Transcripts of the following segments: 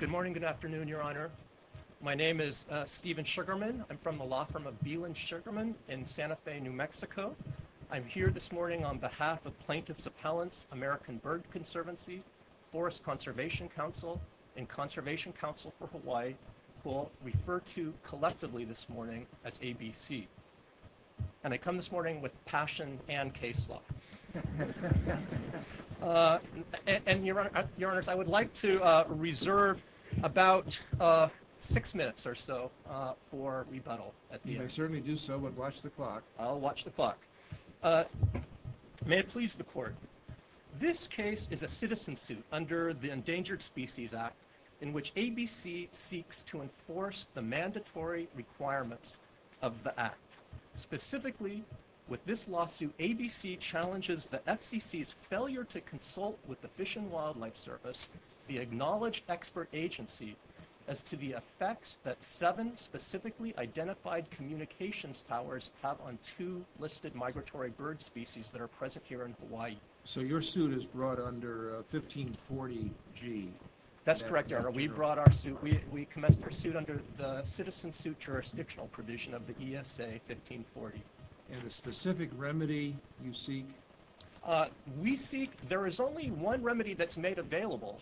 Good morning, good afternoon, Your Honor. My name is Steven Sugarman. I'm from the law firm of Beeland Sugarman in Santa Fe, New Mexico. I'm here this morning on behalf of Plaintiff's Appellants, American Bird Conservancy, Forest Conservation Council, and Conservation Council for Hawaii, who I'll refer to collectively this morning as ABC. And I come this morning with passion and case law. Your Honors, I would like to reserve about six minutes or so for rebuttal. You may certainly do so, but watch the clock. I'll watch the clock. May it please the Court, this case is a citizen suit under the Endangered Species Act in which ABC seeks to enforce the mandatory requirements of the Act. Specifically, with this lawsuit, ABC challenges the FCC's failure to consult with the Fish and Wildlife Service, the Acknowledged Expert Agency, as to the effects that seven specifically identified communications towers have on two listed migratory bird species that are present here in Hawaii. So your suit is brought under 1540 G. That's correct, Your Honor. We brought our suit. We commenced our suit under the citizen suit jurisdictional provision of the ESA 1540. And a specific remedy you seek? We seek, there is only one remedy that's made available,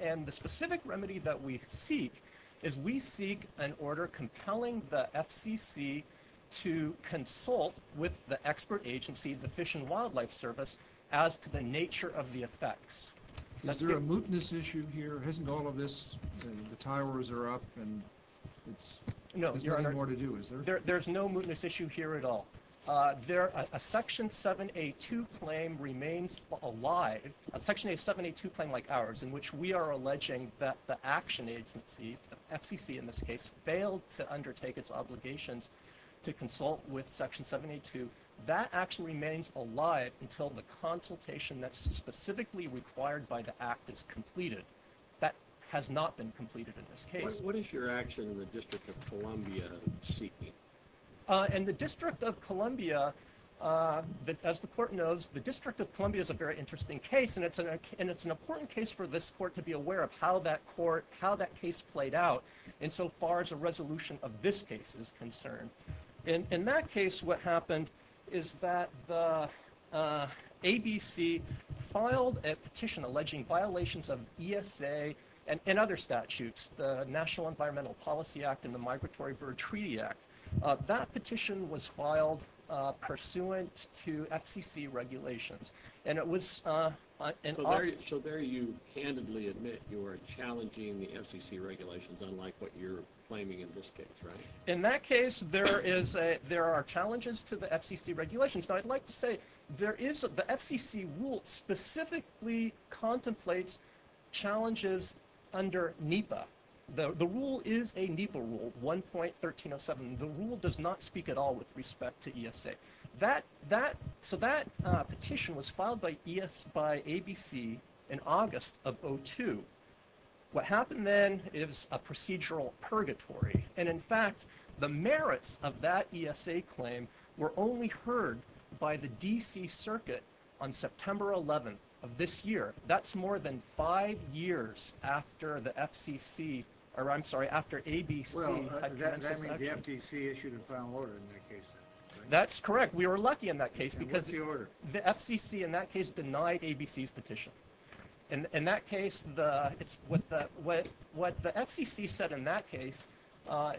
and the specific remedy that we seek is we seek an order compelling the FCC to consult with the Expert Agency, the Fish and Wildlife Service, as to the nature of the effects. Is there a mootness issue here? Hasn't all of this, the towers are up and there's not more to do, is there? No, there's no mootness issue here at all. A Section 782 claim remains alive, a Section 782 claim like ours, in which we are alleging that the action agency, the FCC in this case, failed to undertake its obligations to consult with Section 782. That action remains alive until the consultation that's specifically required by the Act is completed. That has not been completed in this case. What is your action in the District of Columbia seeking? In the District of Columbia, as the Court knows, the District of Columbia is a very interesting case, and it's an important case for this Court to be aware of how that Court, how that case played out insofar as a resolution of this case is concerned. In that case, what happened is that the ABC filed a petition alleging violations of ESA and other statutes, the National Environmental Policy Act and the Migratory Bird Treaty Act. That petition was filed pursuant to FCC regulations. So there you candidly admit you are challenging the FCC regulations, unlike what you're claiming in this case, right? In that case, there are challenges to the FCC regulations. I'd like to say the FCC rule specifically contemplates challenges under NEPA. The rule is a NEPA rule, 1.1307. The rule does not speak at all with respect to ESA. So that petition was filed by ABC in August of 2002. What happened then is a procedural purgatory, and in fact, the merits of that ESA claim were only heard by the D.C. Circuit on September 11th of this year. That's more than five years after the FCC, or I'm sorry, after ABC. Well, does that mean the FCC issued a final order in that case then? That's correct. We were lucky in that case because the FCC in that case denied ABC's petition. In that case, what the FCC said in that case,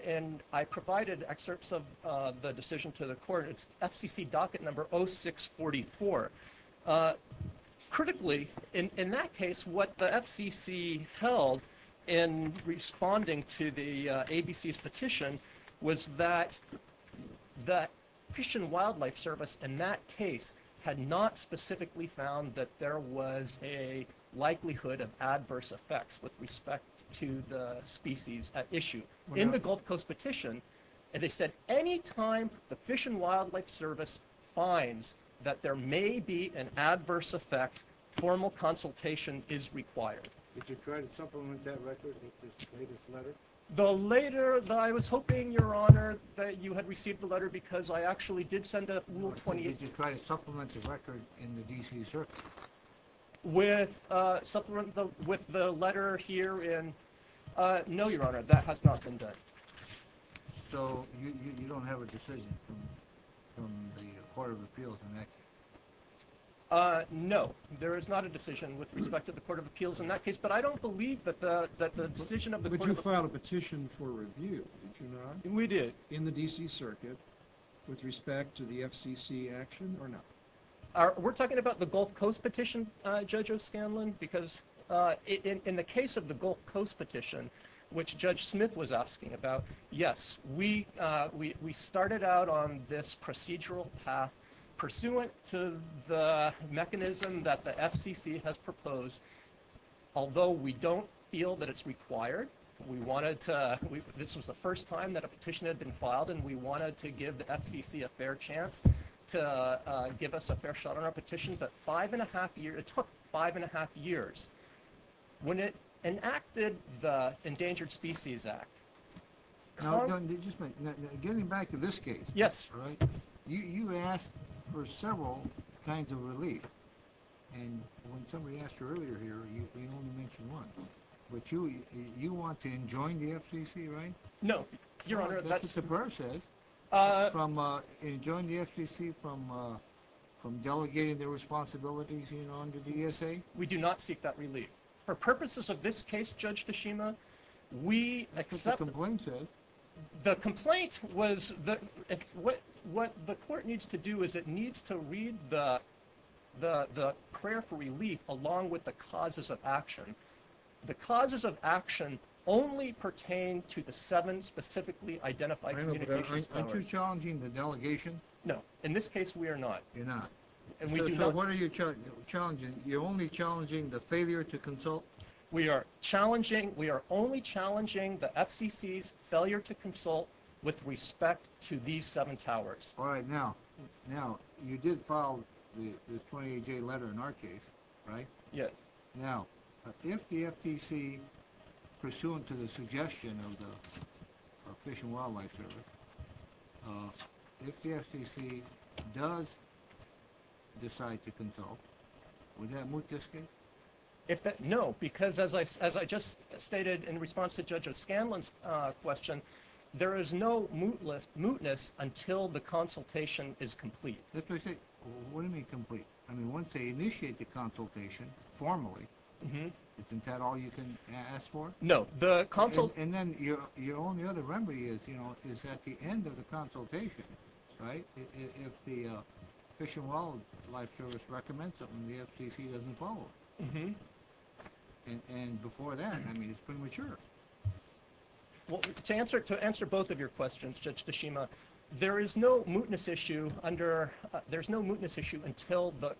and I provided excerpts of the decision to the court, it's FCC docket number 0644. Critically, in that case, what the FCC held in responding to the ABC's petition was that the Fish and Wildlife Service in that case had not specifically found that there was a likelihood of adverse effects with respect to the species at issue. In the Gulf Coast petition, they said any time the Fish and Wildlife Service finds that there may be an adverse effect, formal consultation is required. Did you try to supplement that record in this latest letter? The later that I was hoping, Your Honor, that you had received the letter because I actually did send a Rule 28... Did you try to supplement the record in the D.C. Circuit? With the letter here in... No, Your Honor, that has not been done. So you don't have a decision from the Court of Appeals in that case? No, there is not a decision with respect to the Court of Appeals in that case, but I don't believe that the decision of the Court of Appeals... But you filed a petition for review, did you not? We did. In the D.C. Circuit with respect to the FCC action or not? We're talking about the Gulf Coast petition, Judge O'Scanlan, because in the case of the Gulf Coast petition, which Judge Smith was asking about, yes, we started out on this procedural path pursuant to the mechanism that the FCC has proposed. Although we don't feel that it's required, we wanted to... This was the first time that a petition had been filed and we wanted to give the FCC a fair chance to give us a fair shot on our petition, but five and a half years... It took five and a half years when it enacted the Endangered Species Act. Now, getting back to this case, you asked for several kinds of relief, and when somebody asked you earlier here, you only mentioned one, but you want to enjoin the FCC, right? No, Your Honor, that's... That's what the Burr says. Enjoin the FCC from delegating their responsibilities on to the ESA? We do not seek that relief. For purposes of this case, Judge Tashima, we accept... That's what the complaint says. The complaint was... What the Court needs to do is it needs to read the prayer for relief along with the causes of action. The causes of specifically identified communications... Aren't you challenging the delegation? No. In this case, we are not. You're not. And we do not... So what are you challenging? You're only challenging the failure to consult? We are challenging... We are only challenging the FCC's failure to consult with respect to these seven towers. All right. Now, you did file the 28J letter in our case, right? Yes. Now, if the FCC, pursuant to the suggestion of the Fish and Wildlife Service, if the FCC does decide to consult, would that moot this case? If that... No, because as I just stated in response to Judge O'Scanlan's question, there is no mootness until the consultation is completed, formally. Isn't that all you can ask for? No. And then your only other remedy is at the end of the consultation, right? If the Fish and Wildlife Service recommends it and the FCC doesn't follow. And before then, I mean, it's premature. Well, to answer both of your questions, Judge Tashima, there is no mootness issue under... There's no mootness issue until the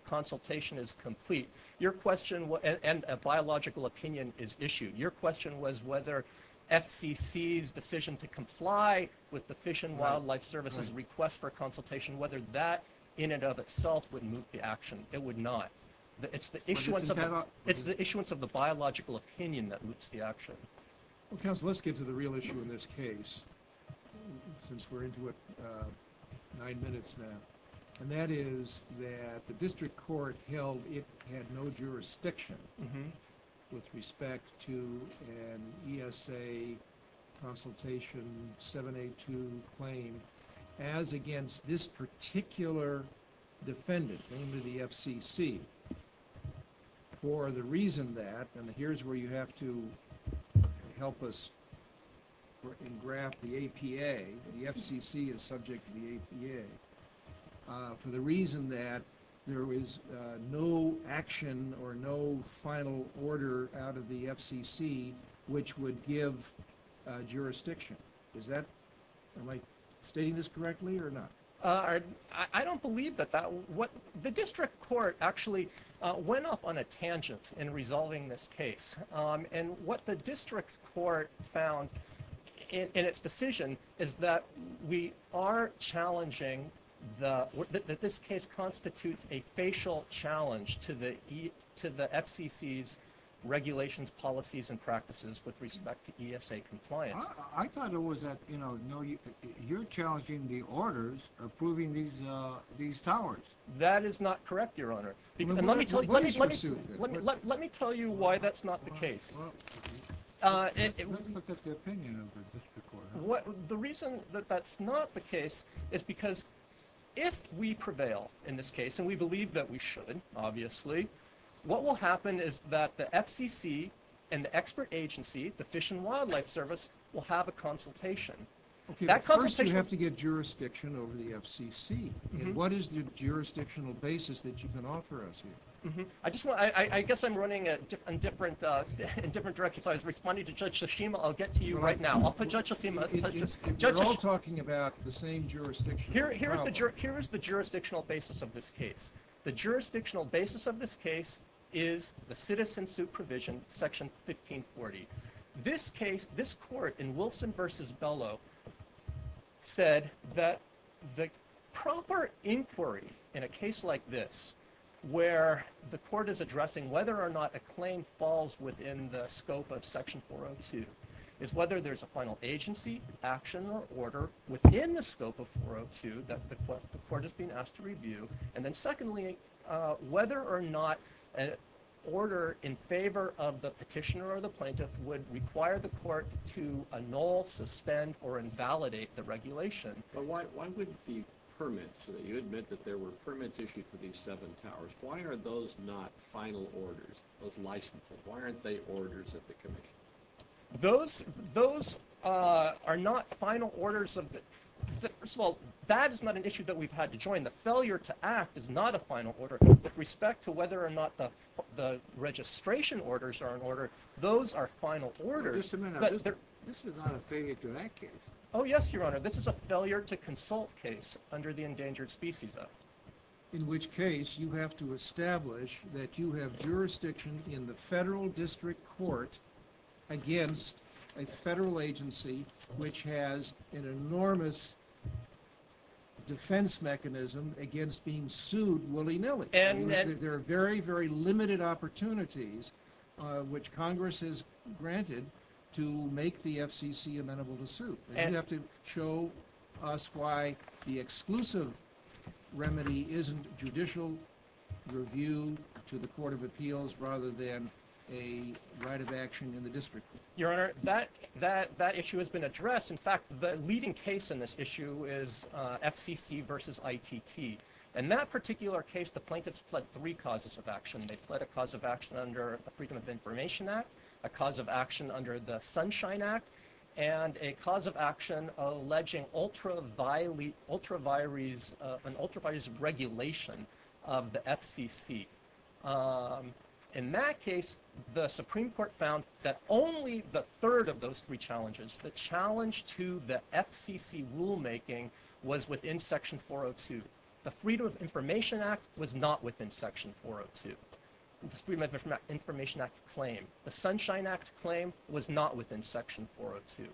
your question... And a biological opinion is issued. Your question was whether FCC's decision to comply with the Fish and Wildlife Service's request for consultation, whether that in and of itself would moot the action. It would not. It's the issuance of the biological opinion that moots the action. Well, counsel, let's get to the real issue in this case, since we're into it now. And that is that the district court held it had no jurisdiction with respect to an ESA consultation 782 claim as against this particular defendant, named the FCC, for the reason that... And here's where you have to help us and graph the APA. The FCC is subject to the APA for the reason that there was no action or no final order out of the FCC, which would give jurisdiction. Is that... Am I stating this correctly or not? I don't believe that that... The district court actually went off on a tangent in resolving this challenging the... That this case constitutes a facial challenge to the FCC's regulations, policies, and practices with respect to ESA compliance. I thought it was that, you know, no, you're challenging the orders approving these towers. That is not correct, Your Honor. Let me tell you why that's not the case. Let's look at the opinion of the district court. The reason that that's not the case is because if we prevail in this case, and we believe that we should, obviously, what will happen is that the FCC and the expert agency, the Fish and Wildlife Service, will have a consultation. First, you have to get jurisdiction over the FCC. What is the jurisdictional basis that you can offer us here? I just want... I guess I'm running in different directions. I was responding to Judge Hashima. I'll get to you right now. I'll get to you. We're all talking about the same jurisdiction. Here is the jurisdictional basis of this case. The jurisdictional basis of this case is the citizen supervision, Section 1540. This case, this court in Wilson v. Bellow, said that the proper inquiry in a case like this, where the court is addressing whether or not a claim falls within the scope of Section 402, is whether there's a final agency, action, or order within the scope of 402 that the court is being asked to review, and then secondly, whether or not an order in favor of the petitioner or the plaintiff would require the court to annul, suspend, or invalidate the regulation. But why wouldn't the permits, so that you admit that there were permits issued for these seven towers, why are those not final orders, those licenses? Why aren't they orders of the commission? Those are not final orders. First of all, that is not an issue that we've had to join. The failure to act is not a final order with respect to whether or not the registration orders are in order. Those are final orders. Just a minute. This is not a failure to act case. Oh yes, Your Honor. This is a failure to consult case under the Endangered Species Act. In which case, you have to establish that you have jurisdiction in the federal district court against a federal agency which has an enormous defense mechanism against being sued willy-nilly. There are very, very limited opportunities which Congress has granted to make the FCC amenable to sue. You have to show us why the exclusive remedy isn't judicial review to the Court of Appeals rather than a right of action in the district court. Your Honor, that issue has been addressed. In fact, the leading case in this issue is FCC versus ITT. In that particular case, the plaintiffs pled three causes of action. They pled a cause of action under the Freedom of Information Act, a cause of action under the Sunshine Act, and a cause of action alleging an ultraviolet regulation of the FCC. In that case, the Supreme Court found that only the third of those three challenges, the challenge to the FCC rulemaking, was within Section 402. The Freedom of Information Act was not within Section 402. The Freedom of Information Act claim, the Sunshine Act claim, was not within Section 402.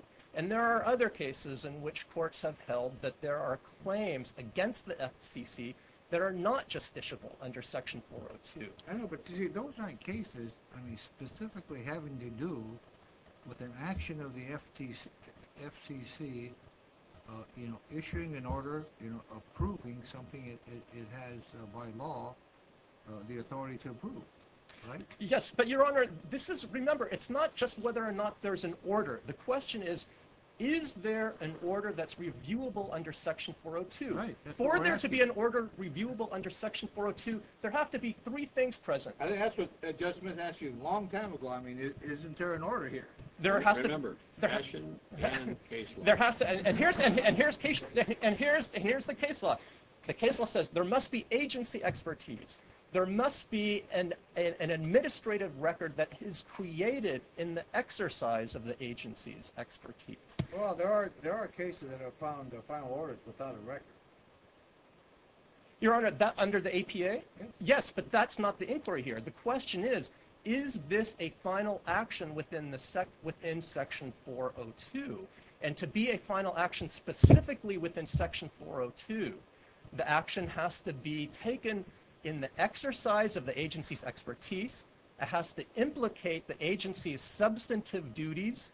There are other cases in which courts have held that there are claims against the FCC that are not justiciable under Section 402. I know, but those aren't cases specifically having to do with an action of the FCC issuing an order approving something it has by law the authority to approve. Yes, but Your Honor, remember, it's not just whether or not there's an order. The question is, is there an order that's reviewable under Section 402? For there to be an order reviewable under Section 402, there have to be three things present. That's what Judge Smith asked you a long time ago. I mean, isn't there an order here? Remember, action and case law. And here's the case law. The case law says there must be agency expertise. There must be an administrative record that is created in the exercise of the agency's expertise. Well, there are cases that have found final orders without a record. Your Honor, under the APA? Yes. Yes, but that's not the inquiry here. The question is, is this a final action within Section 402? And to be a final action specifically within Section 402, the action has to be taken in the exercise of the agency's expertise. It has to implicate the agency's substantive duties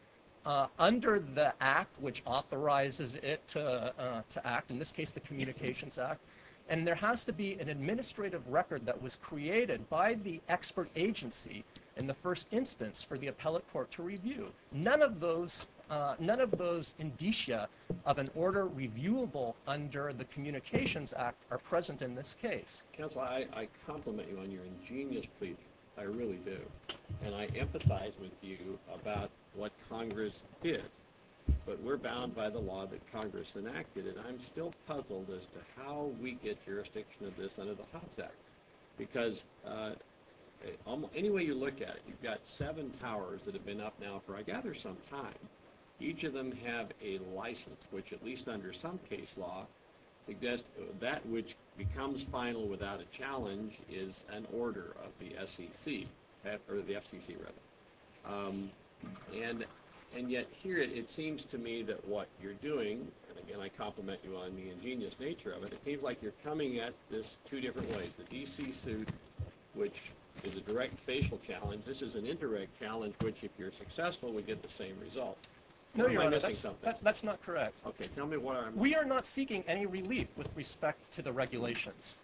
under the Act which authorizes it to act, in this case, the Communications Act. And there has to be an administrative record that the expert agency, in the first instance, for the appellate court to review. None of those indicia of an order reviewable under the Communications Act are present in this case. Counsel, I compliment you on your ingenious plea. I really do. And I empathize with you about what Congress did. But we're bound by the law that Congress enacted. And I'm still puzzled as to we get jurisdiction of this under the Hobbs Act. Because any way you look at it, you've got seven towers that have been up now for, I gather, some time. Each of them have a license which, at least under some case law, suggests that which becomes final without a challenge is an order of the FCC. And yet here, it seems to me that what you're doing, and again, I compliment you on the you're coming at this two different ways. The DC suit, which is a direct facial challenge, this is an indirect challenge which, if you're successful, would get the same result. That's not correct. We are not seeking any relief with respect to the regulations.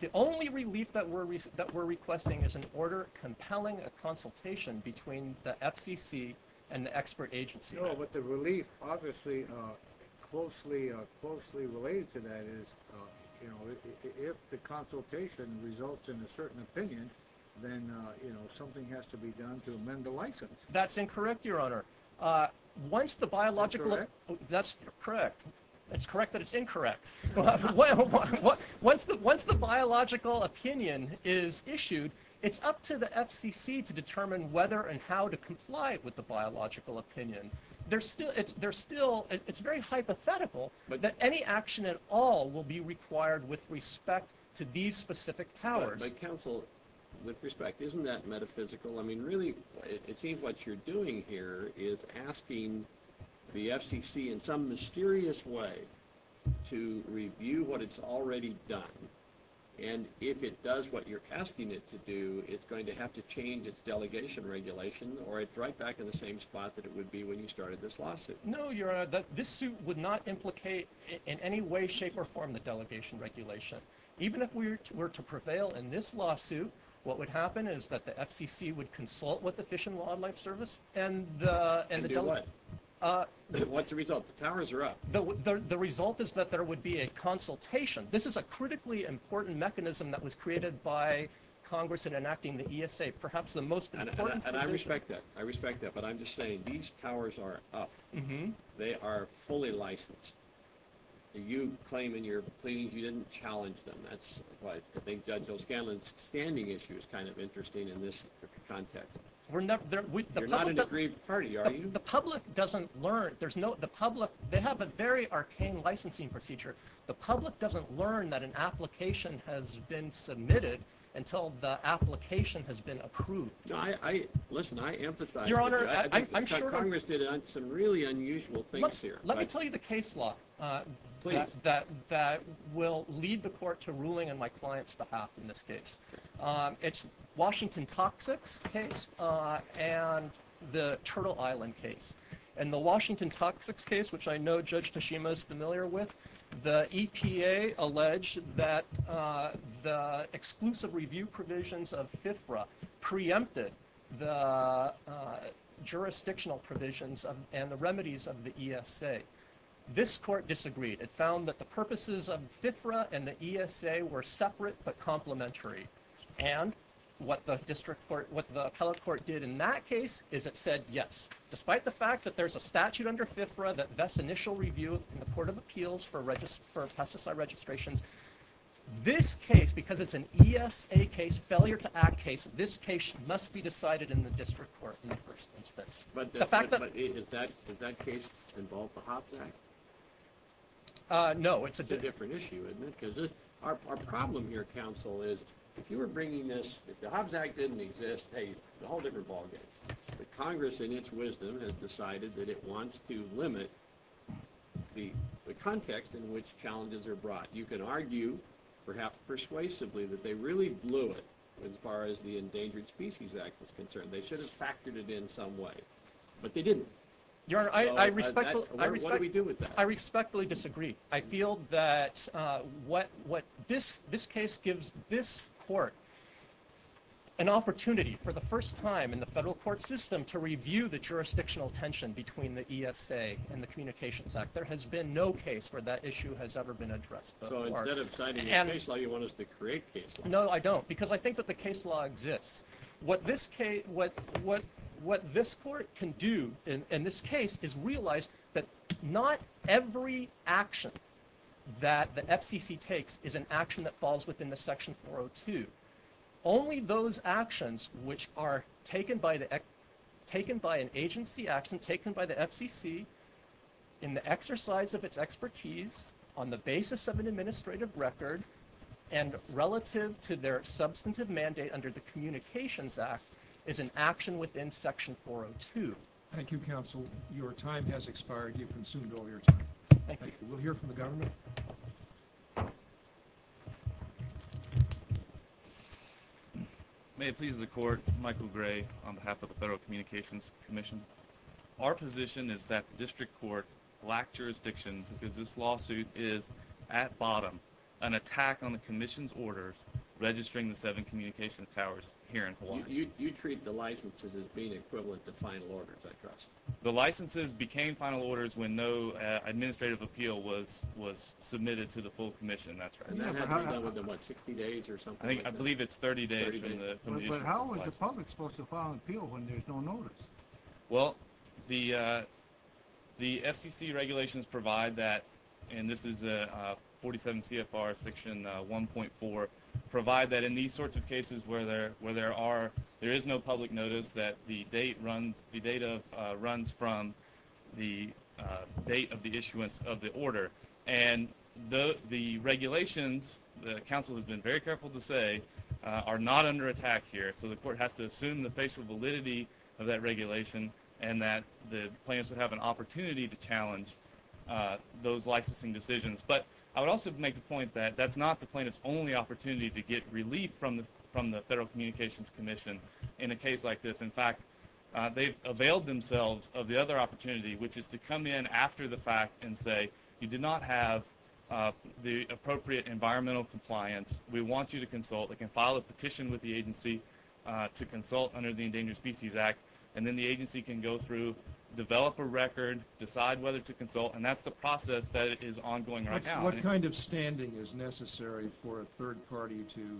The only relief that we're requesting is an order compelling a consultation between the FCC and the expert agency. No, but the relief, obviously, closely related to that is if the consultation results in a certain opinion, then something has to be done to amend the license. That's incorrect, Your Honor. That's correct. It's correct that it's incorrect. Once the biological opinion is issued, it's up to the FCC to determine whether and how to comply with the biological opinion. It's very hypothetical that any action at all will be required with respect to these specific towers. But counsel, with respect, isn't that metaphysical? I mean, really, it seems what you're doing here is asking the FCC in some mysterious way to review what it's already done. And if it does what you're asking it to do, it's going to have to change its delegation regulation, or it's right back in the same spot that it would be when you started this lawsuit. No, Your Honor, this suit would not implicate in any way, shape, or form the delegation regulation. Even if we were to prevail in this lawsuit, what would happen is that the FCC would consult with the Fish and Wildlife Service. And do what? What's the result? The towers are up. The result is that there would be a consultation. This is a critically important mechanism that was created by Congress in enacting the ESA. And I respect that. I respect that. But I'm just saying, these towers are up. They are fully licensed. You claim in your pleadings you didn't challenge them. That's why I think Judge O'Scanlan's standing issue is kind of interesting in this context. You're not an aggrieved party, are you? The public doesn't learn. They have a very arcane licensing procedure. The public doesn't learn that an application has been submitted until the application has been approved. Listen, I empathize. Your Honor, I'm sure Congress did some really unusual things here. Let me tell you the case law that will lead the court to ruling on my client's behalf in this case. It's Washington Toxics case and the Turtle Island case. And the Washington Toxics case, which I know Judge Tashima is familiar with, the EPA alleged that the exclusive review provisions of FIFRA preempted the jurisdictional provisions and the remedies of the ESA. This court disagreed. It found that the purposes of FIFRA and the ESA were separate but complementary. And what the district court, what the appellate court did in that case is it said, yes, despite the fact that there's a statute under FIFRA that vests initial review in the Court of Appeals for pesticide registrations, this case, because it's an ESA case, failure to act case, this case must be decided in the district court in the first instance. But does that case involve the Hobbs Act? Uh, no. It's a different issue, isn't it? Because our problem here, counsel, is if you were bringing this, if the Hobbs Act didn't exist, hey, a whole different ballgame. The Congress, in its wisdom, has decided that it wants to limit the context in which challenges are brought. You can argue, perhaps persuasively, that they really blew it as far as the Endangered Species Act was concerned. They should have factored it in some way, but they didn't. Your Honor, I respectfully, I respectfully, I respectfully disagree. I feel that, uh, what, what this, this case gives this court an opportunity for the first time in the federal court system to review the jurisdictional tension between the ESA and the Communications Act. There has been no case where that issue has ever been addressed. So instead of signing a case law, you want us to create case law? No, I don't, because I think that the case law exists. What this case, what, what, what this court can do in this case is realize that not every action that the FCC takes is an action that falls within the Section 402. Only those actions which are taken by the, taken by an agency action, taken by the FCC, in the exercise of its expertise, on the basis of an administrative record, and relative to their substantive mandate under the Communications Act, is an action within Section 402. Thank you, counsel. Your time has expired. You've consumed all your time. Thank you. We'll hear from the government. May it please the Court, Michael Gray, on behalf of the Federal Communications Commission. Our position is that the District Court lacked jurisdiction because this lawsuit is, at bottom, an attack on the Commission's orders registering the seven communications towers here in Hawaii. You, you treat the licenses as being equivalent to final orders, I trust. The licenses became final orders when no administrative appeal was, was submitted to the full Commission, that's right. I think, I believe it's 30 days. But how is the public supposed to file an appeal when there's no notice? Well, the, the FCC regulations provide that, and this is 47 CFR Section 1.4, provide that in these sorts of cases where there, where there are, there is no public notice that the date runs, the date of, runs from the date of the issuance of the order. And the, the regulations, the counsel has been very careful to say, are not under attack here. So the Court has to assume the facial validity of that regulation and that the plaintiffs would have an opportunity to challenge those licensing decisions. But I would also make the point that that's not the plaintiff's only opportunity to get relief from the, from the Federal Communications Commission in a case like this. In fact, they've availed themselves of the other opportunity, which is to come in after the fact and say, you did not have the appropriate environmental compliance, we want you to consult. They can file a petition with the agency to consult under the Endangered Species Act, and then the agency can go through, develop a record, decide whether to consult, and that's the process that is ongoing right now. What kind of standing is necessary for a third party to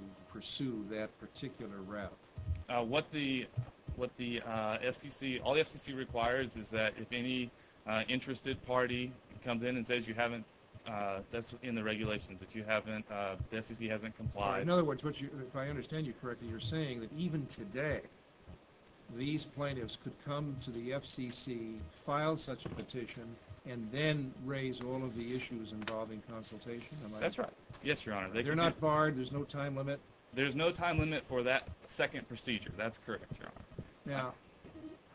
what the FCC, all the FCC requires is that if any interested party comes in and says you haven't, that's in the regulations, if you haven't, the FCC hasn't complied. In other words, what you, if I understand you correctly, you're saying that even today, these plaintiffs could come to the FCC, file such a petition, and then raise all of the issues involving consultation? That's right. Yes, Your Honor. They're not barred? There's no time limit? There's no time limit for that second procedure? That's correct, Your Honor. Now,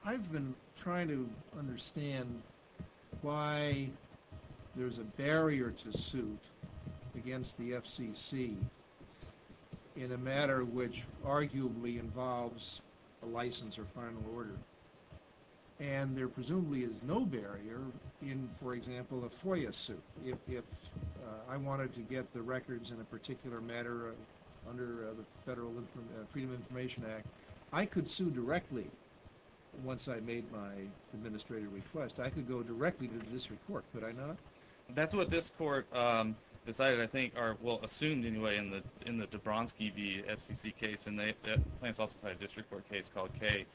I've been trying to understand why there's a barrier to suit against the FCC in a matter which arguably involves a license or final order, and there presumably is no barrier in, for example, a FOIA suit. If I wanted to get the Freedom of Information Act, I could sue directly once I made my administrative request. I could go directly to the district court, could I not? That's what this court decided, I think, or, well, assumed, anyway, in the, in the Dabronski v. FCC case, and the plaintiffs also had a district court case called K.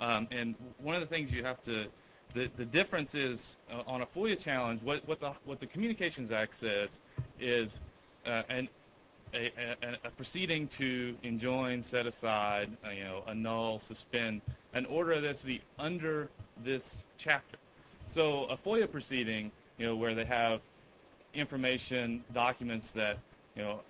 And one of the things you have to, the difference is on a FOIA challenge, what the Communications Act says is a proceeding to enjoin, set aside, you know, annul, suspend, an order that's under this chapter. So a FOIA proceeding, you know, where they have information, documents that, you know,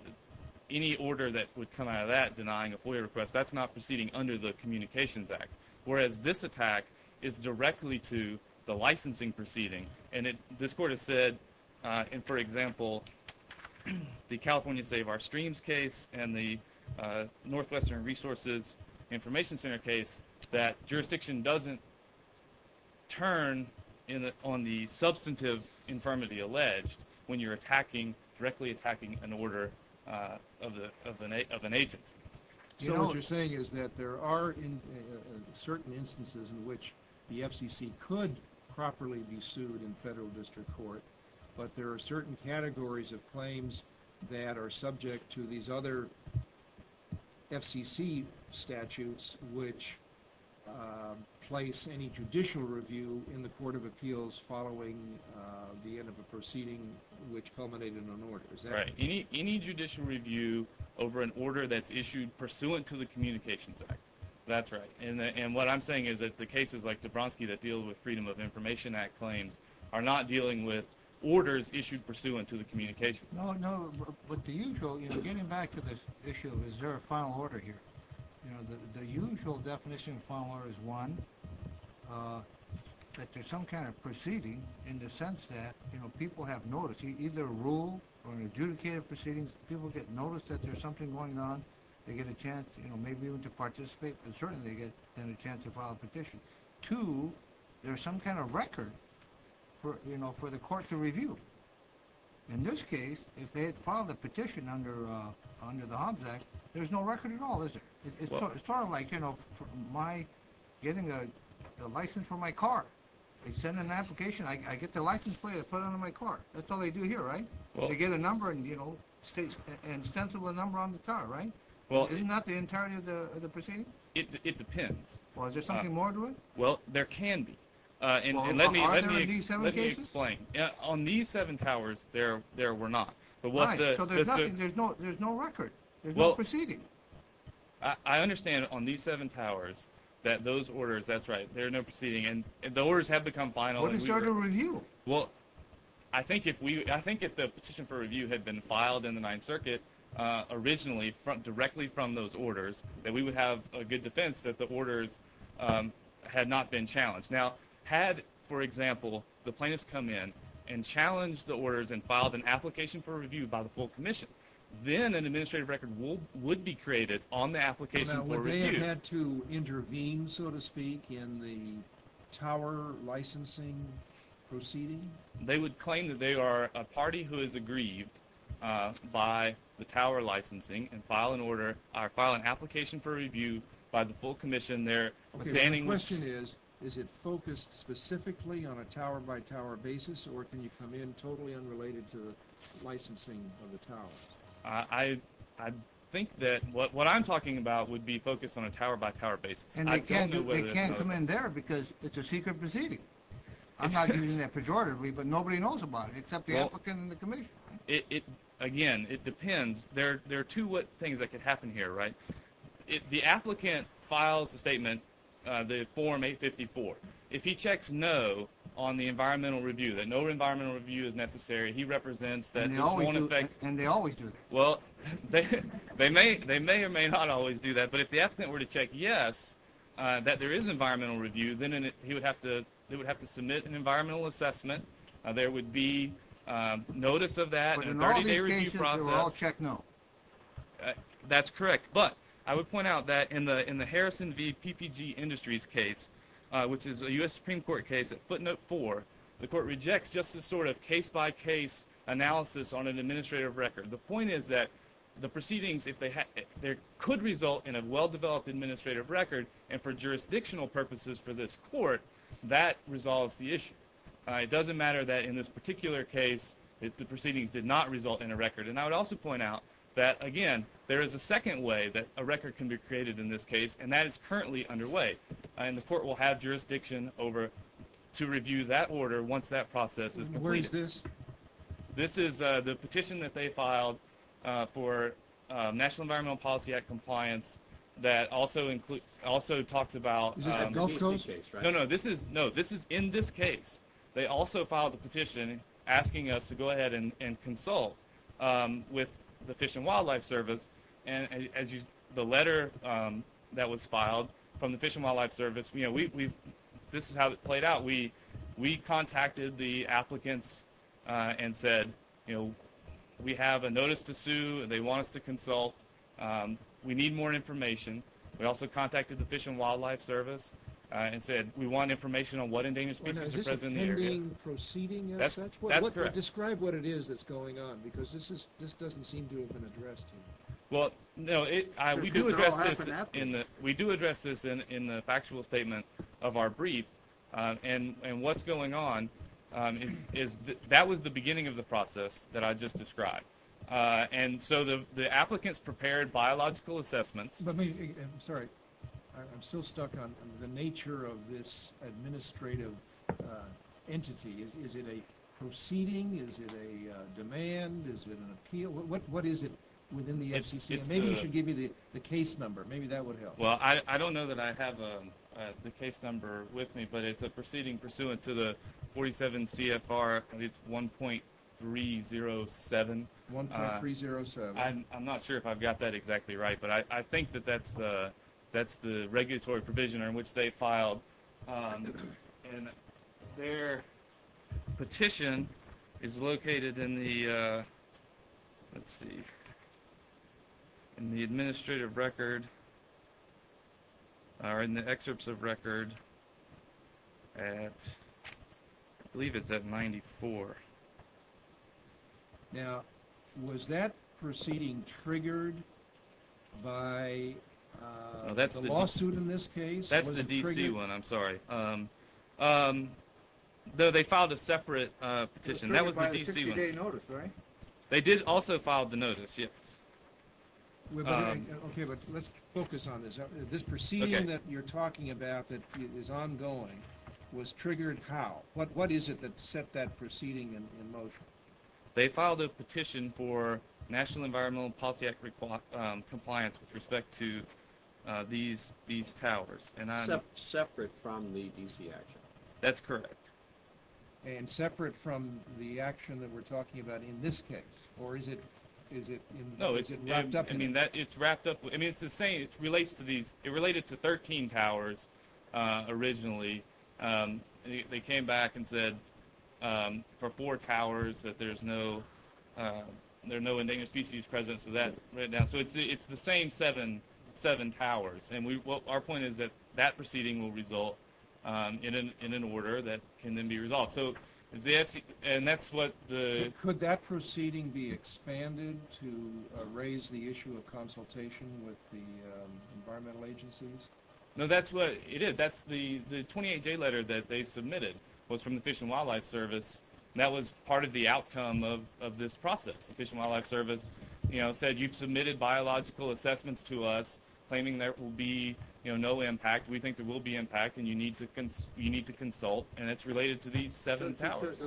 any order that would come out of that denying a FOIA request, that's not proceeding under the Communications Act, whereas this attack is directly to the district court. And so, you know, this court has said, in, for example, the California Save Our Streams case, and the Northwestern Resources Information Center case, that jurisdiction doesn't turn in, on the substantive infirmity alleged when you're attacking, directly attacking an order of the, of an, of an agency. So what you're saying is that there are certain instances in which the FCC could properly be sued in federal district court, but there are certain categories of claims that are subject to these other FCC statutes which place any judicial review in the Court of Appeals following the end of a proceeding which culminated in an order. Is that right? Right. Any judicial review over an order that's issued pursuant to the Communications Act. That's right. And what I'm saying is that the cases like Dabrowski that deal with Freedom of Information Act claims are not dealing with orders issued pursuant to the Communications Act. No, no, but the usual, you know, getting back to this issue of is there a final order here, you know, the usual definition of final order is one, that there's some kind of proceeding in the sense that, you know, people have noticed, either a rule or an adjudicated proceedings, people get noticed that there's going on, they get a chance, you know, maybe even to participate, and certainly they get then a chance to file a petition. Two, there's some kind of record for, you know, for the court to review. In this case, if they had filed a petition under the Hobbs Act, there's no record at all, is there? It's sort of like, you know, my getting a license for my car. They send an application, I get the license plate, I put it on my car. That's all they do here, right? They get a number and, you know, an extensible number on the car, right? Well, isn't that the entirety of the proceeding? It depends. Well, is there something more to it? Well, there can be, and let me explain. On these seven towers, there were not, but there's no record, there's no proceeding. I understand on these seven towers that those orders, that's right, there's no proceeding, and the orders have become final. What is there to review? Well, I think if we, I think if the petition for review had been filed in the Ninth Circuit originally, directly from those orders, that we would have a good defense that the orders had not been challenged. Now, had, for example, the plaintiffs come in and challenged the orders and filed an application for review by the full commission, then an administrative record would be created on the application for review. Now, would they have had to intervene, so to speak, in the licensing proceeding? They would claim that they are a party who is aggrieved by the tower licensing and file an order or file an application for review by the full commission there. The question is, is it focused specifically on a tower-by-tower basis, or can you come in totally unrelated to licensing of the towers? I think that what I'm talking about would be focused on a tower-by-tower basis. And they can't come in there because it's a secret proceeding. I'm not using that pejoratively, but nobody knows about it except the applicant and the commission. Again, it depends. There are two things that could happen here, right? If the applicant files a statement, the form 854, if he checks no on the environmental review, that no environmental review is necessary, he represents that this won't affect... And they always do that. Well, they may or may not always do that, but if the applicant were to check yes that there is environmental review, then he would have to submit an environmental assessment. There would be notice of that. But in all these cases, they would all check no. That's correct, but I would point out that in the Harrison v. PPG Industries case, which is a U.S. Supreme Court case at footnote four, the court rejects just this sort of case-by-case analysis on an administrative record. The point is that the proceedings could result in a well-developed administrative record, and for jurisdictional purposes for this court, that resolves the issue. It doesn't matter that in this particular case, the proceedings did not result in a record. And I would also point out that, again, there is a second way that a record can be created in this case, and that is currently underway. And the court will have jurisdiction over to review that order once that process is completed. Where is this? This is the petition that they filed for National Environmental Policy Act compliance that also includes, also talks about... Is this at Gulf Coast? No, no, this is, no, this is in this case. They also filed the petition asking us to go ahead and consult with the Fish and Wildlife Service. And as you, the letter that was filed from the Fish and Wildlife Service, you know, we've, this is how it played out. We contacted the applicants and said, you know, we have a notice to sue, they want us to consult, we need more information. We also contacted the Fish and Wildlife Service and said we want information on what endangered species are present in the area. Is this a pending proceeding as such? That's correct. Describe what it is that's going on, because this is, this doesn't seem to have been addressed here. Well, no, it, we do address this in the, we do address this in in the factual statement of our brief. And, and what's going on is, is that was the beginning of the process that I just described. And so the, the applicants prepared biological assessments. Let me, I'm sorry, I'm still stuck on the nature of this administrative entity. Is it a proceeding? Is it a demand? Is it an appeal? What, what is it within the FCC? Maybe you should give me the case number, maybe that would help. Well, I don't know that I have the case number with me, but it's a proceeding pursuant to the 47 CFR, I think it's 1.307. 1.307. I'm not sure if I've got that exactly right, but I, I think that that's, that's the regulatory provision on which they filed. And their petition is located in the let's see, in the administrative record, or in the excerpts of record at, I believe it's at 94. Now, was that proceeding triggered by the lawsuit in this case? That's the D.C. one, I'm sorry. Though they filed a separate petition, that was the D.C. Notice, right? They did also file the notice, yes. Okay, but let's focus on this. This proceeding that you're talking about that is ongoing was triggered how? What, what is it that set that proceeding in motion? They filed a petition for National Environmental Policy Act compliance with respect to these, these towers. And separate from the D.C. action? That's correct. And separate from the action that we're talking about in this case? Or is it, is it, is it wrapped up? I mean that, it's wrapped up, I mean it's the same, it relates to these, it related to 13 towers originally. They came back and said for four towers that there's no, there are no endangered species present for that right now. So it's, it's the same seven, seven towers. And we, our point is that that proceeding will result in an, in an order that can then be resolved. So the, and that's what the... Could that proceeding be expanded to raise the issue of consultation with the environmental agencies? No, that's what it is. That's the, the 28-day letter that they submitted was from the Fish and Wildlife Service. That was part of the outcome of, of this process. The Fish and Wildlife Service, you know, said you've submitted biological assessments to us claiming there will be, you know, no impact. We think there will be impact and you need to cons, you need to consult. And it's related to these seven towers.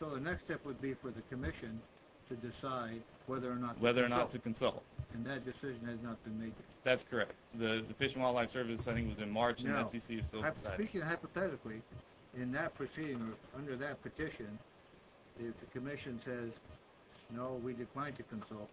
So the next step would be for the Commission to decide whether or not, whether or not to consult. And that decision has not been made. That's correct. The Fish and Wildlife Service is sending within March and the NCC is still deciding. Speaking hypothetically, in that proceeding, under that petition, if the Commission says, no, we decline to consult,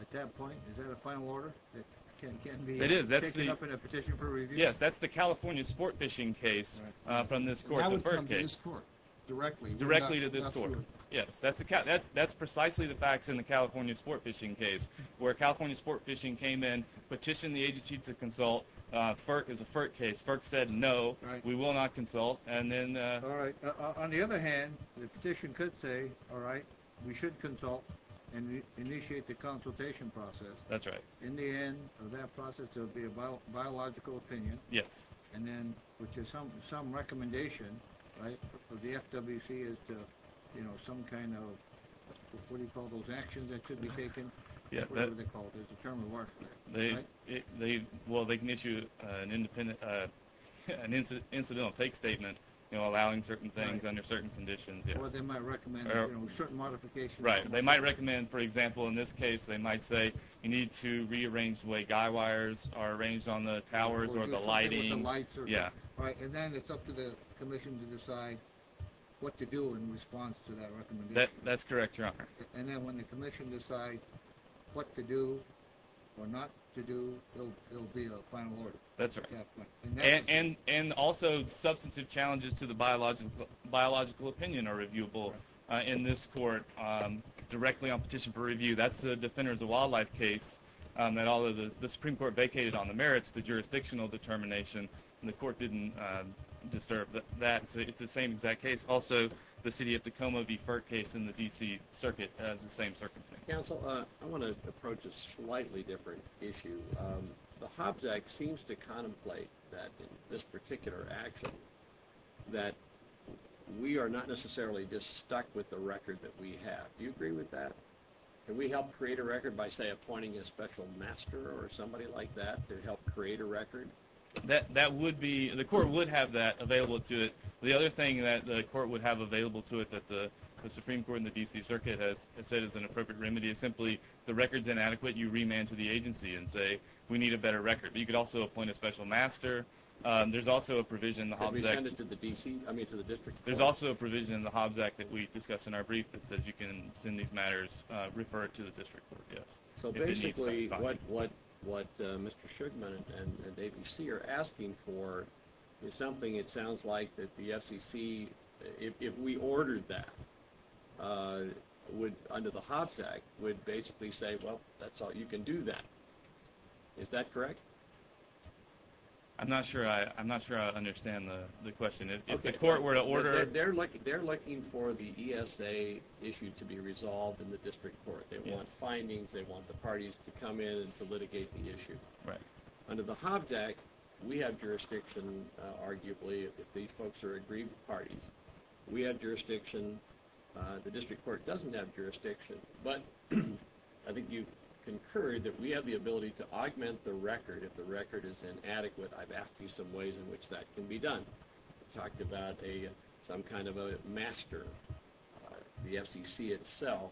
at that point, is that a final order that can, can be... It is. That's the... Picked up in a petition for review? Yes, that's the California Sport Fishing case, uh, from this court, the FERC case. How would it come to this court, directly? Directly to this court. Yes, that's a, that's, that's precisely the facts in the California Sport Fishing case, where California Sport Fishing came in, petitioned the agency to consult. Uh, FERC is a FERC case. FERC said, no, we will not consult. And then, uh... All right. On the other hand, the petition could say, all right, we should consult and initiate the consultation process. That's right. In the end, of that process, there'll be a biological opinion. Yes. And then, which is some, some recommendation, right, of the FWC as to, you know, some kind of, what do you call those actions that should be taken? Yeah. Whatever they're called. There's a term to work with. They, they, well, they can issue an independent, uh, an incident, take statement, you know, allowing certain things under certain conditions. Yes. Or they might recommend, you know, certain modifications. Right. They might recommend, for example, in this case, they might say, you need to rearrange the way guy wires are arranged on the towers or the lighting. Yeah. All right. And then, it's up to the commission to decide what to do in response to that recommendation. That, that's correct, Your Honor. And then, when the commission decides what to do or not to do, it'll, it'll be a final order. That's right. And, and, and also, substantive challenges to the biological, biological opinion are reviewable in this court, um, directly on petition for review. That's the Defenders of Wildlife case, um, that all of the, the Supreme Court vacated on the merits, the jurisdictional determination, and the court didn't, uh, disturb that. So, it's the same exact case. Also, the City of Tacoma v. Fert case in the D.C. Circuit has the same circumstances. Counsel, I want to approach a slightly different issue. Um, the Hobbs Act seems to contemplate that, in this particular action, that we are not necessarily just stuck with the record that we have. Do you agree with that? Can we help create a record by, say, appointing a special master or somebody like that to help create a record? That, that would be, the court would have that available to it. The other thing that the court would have available to it that the, the Supreme Court in the D.C. Circuit has, has said is an appropriate remedy is simply, the record's inadequate, you remand to the agency and say, we need a better record. But, also, appoint a special master. Um, there's also a provision in the Hobbs Act. Can we send it to the D.C.? I mean, to the District Court. There's also a provision in the Hobbs Act that we discuss in our brief that says you can send these matters, uh, refer it to the District Court, yes. So, basically, what, what, what, uh, Mr. Shugman and, and, and A.B.C. are asking for is something, it sounds like, that the FCC, if, if we ordered that, uh, would, under the Hobbs Act, would that be fulfilled? I'm not sure I, I'm not sure I understand the, the question. If the court were to order... They're looking, they're looking for the ESA issue to be resolved in the District Court. They want findings, they want the parties to come in and to litigate the issue. Right. Under the Hobbs Act, we have jurisdiction, arguably, if these folks are agreed parties. We have jurisdiction. Uh, the District Court doesn't have jurisdiction, but I think you incurred that we have the ability to augment the record if the record is inadequate. I've asked you some ways in which that can be done. Talked about a, some kind of a master, the FCC itself,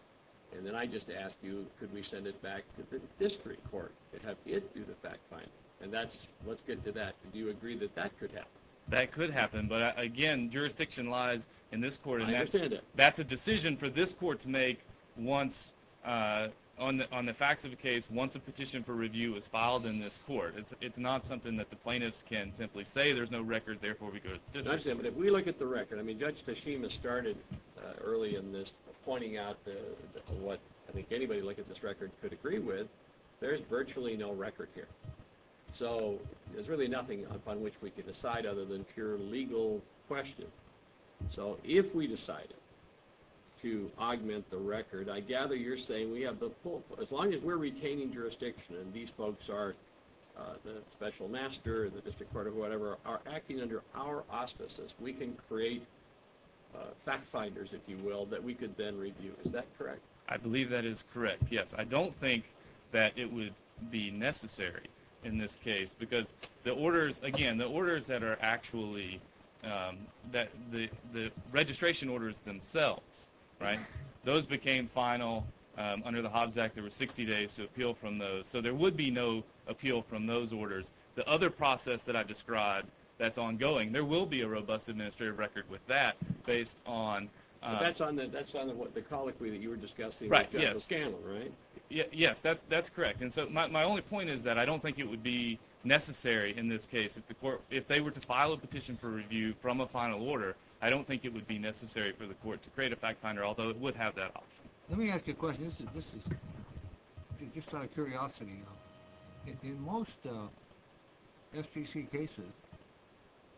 and then I just asked you, could we send it back to the District Court? Could have it do the fact finding? And that's, let's get to that. Do you agree that that could happen? That could happen, but again, jurisdiction lies in this court. I understand that. That's a decision for this court to make once, uh, on, on the facts of the case, once a petition for review is filed in this court. It's, it's not something that the plaintiffs can simply say, there's no record, therefore we go to the District Court. I understand, but if we look at the record, I mean, Judge Tashima started, uh, early in this pointing out the, what I think anybody look at this record could agree with, there's virtually no record here. So there's really nothing upon which we can decide other than pure legal question. So if we decided to augment the record, I gather you're saying we have the full, as long as we're retaining jurisdiction and these folks are, uh, the special master, the District Court or whatever, are acting under our auspices, we can create, uh, fact finders, if you will, that we could then review. Is that correct? I believe that is correct. Yes. I don't think that it would be necessary in this case because the orders, again, the orders that are actually, um, that the, the registration orders themselves, right, those became final, um, under the Hobbs Act, there were 60 days to appeal from those, so there would be no appeal from those orders. The other process that I've described that's ongoing, there will be a robust administrative record with that based on, uh, that's on the, that's on the, what, the colloquy that you were discussing, right? Yes. Yes, that's, that's correct, and so my only point is that I don't think it would be necessary in this case if the court, if they were to file a petition for review from a final order, I don't think it would be necessary for the court to create a fact finder, although it would have that option. Let me ask you a question. This is, this is just out of curiosity. In most, uh, FTC cases,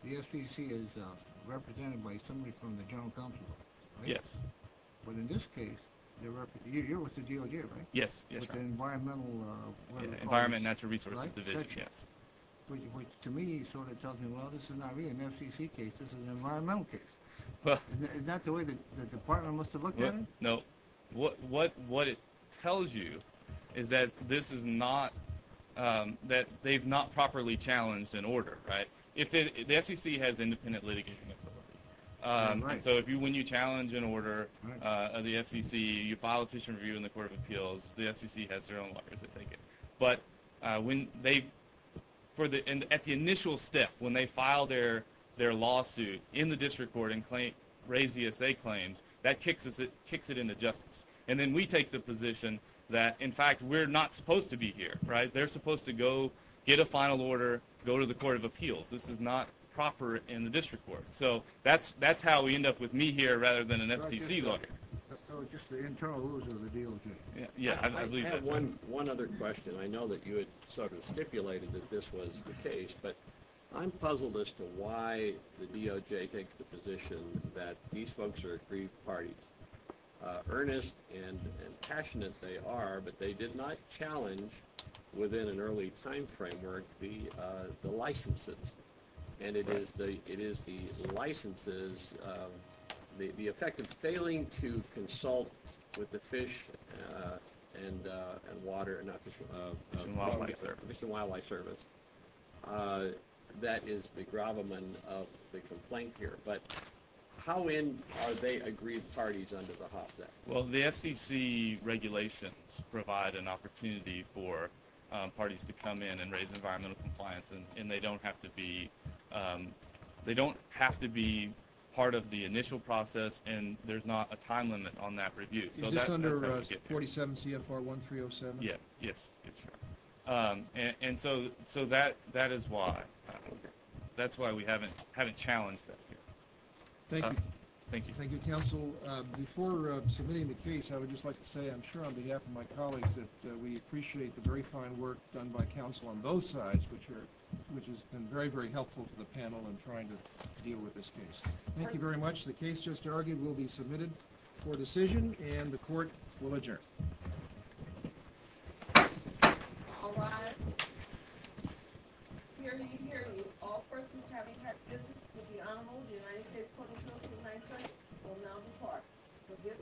the FTC is, uh, represented by somebody from the General Counsel, right? Yes. But in this case, you're with the GOG, right? Yes, yes. With the Environmental, uh, Environment and Natural Resources Division, yes. Which, which to me sort of tells me, well, this is not really an FCC case, this is an environmental case, but is that the way the Department must have looked at it? No, what, what it tells you is that this is not, um, that they've not properly challenged an order, right? If it, the FCC has independent litigation authority, um, so if you, when you challenge an FTC, you file a petition for review in the Court of Appeals, the FCC has their own lawyers that take it. But, uh, when they, for the, at the initial step, when they file their, their lawsuit in the District Court and claim, raise the essay claims, that kicks us, it kicks it into justice. And then we take the position that, in fact, we're not supposed to be here, right? They're supposed to go get a final order, go to the Court of Appeals. This is not proper in the District Court. So that's, that's how we end up with me here, rather than an FCC lawyer. So it's just the internal rules of the DOJ? Yeah, I believe that's right. One other question. I know that you had sort of stipulated that this was the case, but I'm puzzled as to why the DOJ takes the position that these folks are three-partied. Earnest and passionate they are, but they did not challenge, within an early time framework, the licenses. And it is the, it is the licenses, the effect of failing to consult with the Fish and Water and Fish and Wildlife Service, that is the gravamen of the complaint here. But how in are they agreed parties under the Hofstede? Well, the FCC regulations provide an opportunity for parties to come in and raise environmental compliance, and they don't have to be, they don't have to be part of the initial process, and there's not a time limit on that review. Is this under 47 CFR 1307? Yeah, yes. And so, so that, that is why, that's why we haven't, haven't challenged that here. Thank you. Thank you. Thank you, counsel. Before submitting the case, I would just like to say, I'm sure, on behalf of my colleagues, that we appreciate the very fine work done by counsel on both sides, which are, which has been very, very helpful to the panel in trying to deal with this case. Thank you very much. The case just argued will be submitted for decision, and the court will adjourn. All rise. We'll now depart for this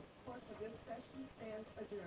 session and adjourn. Thank you.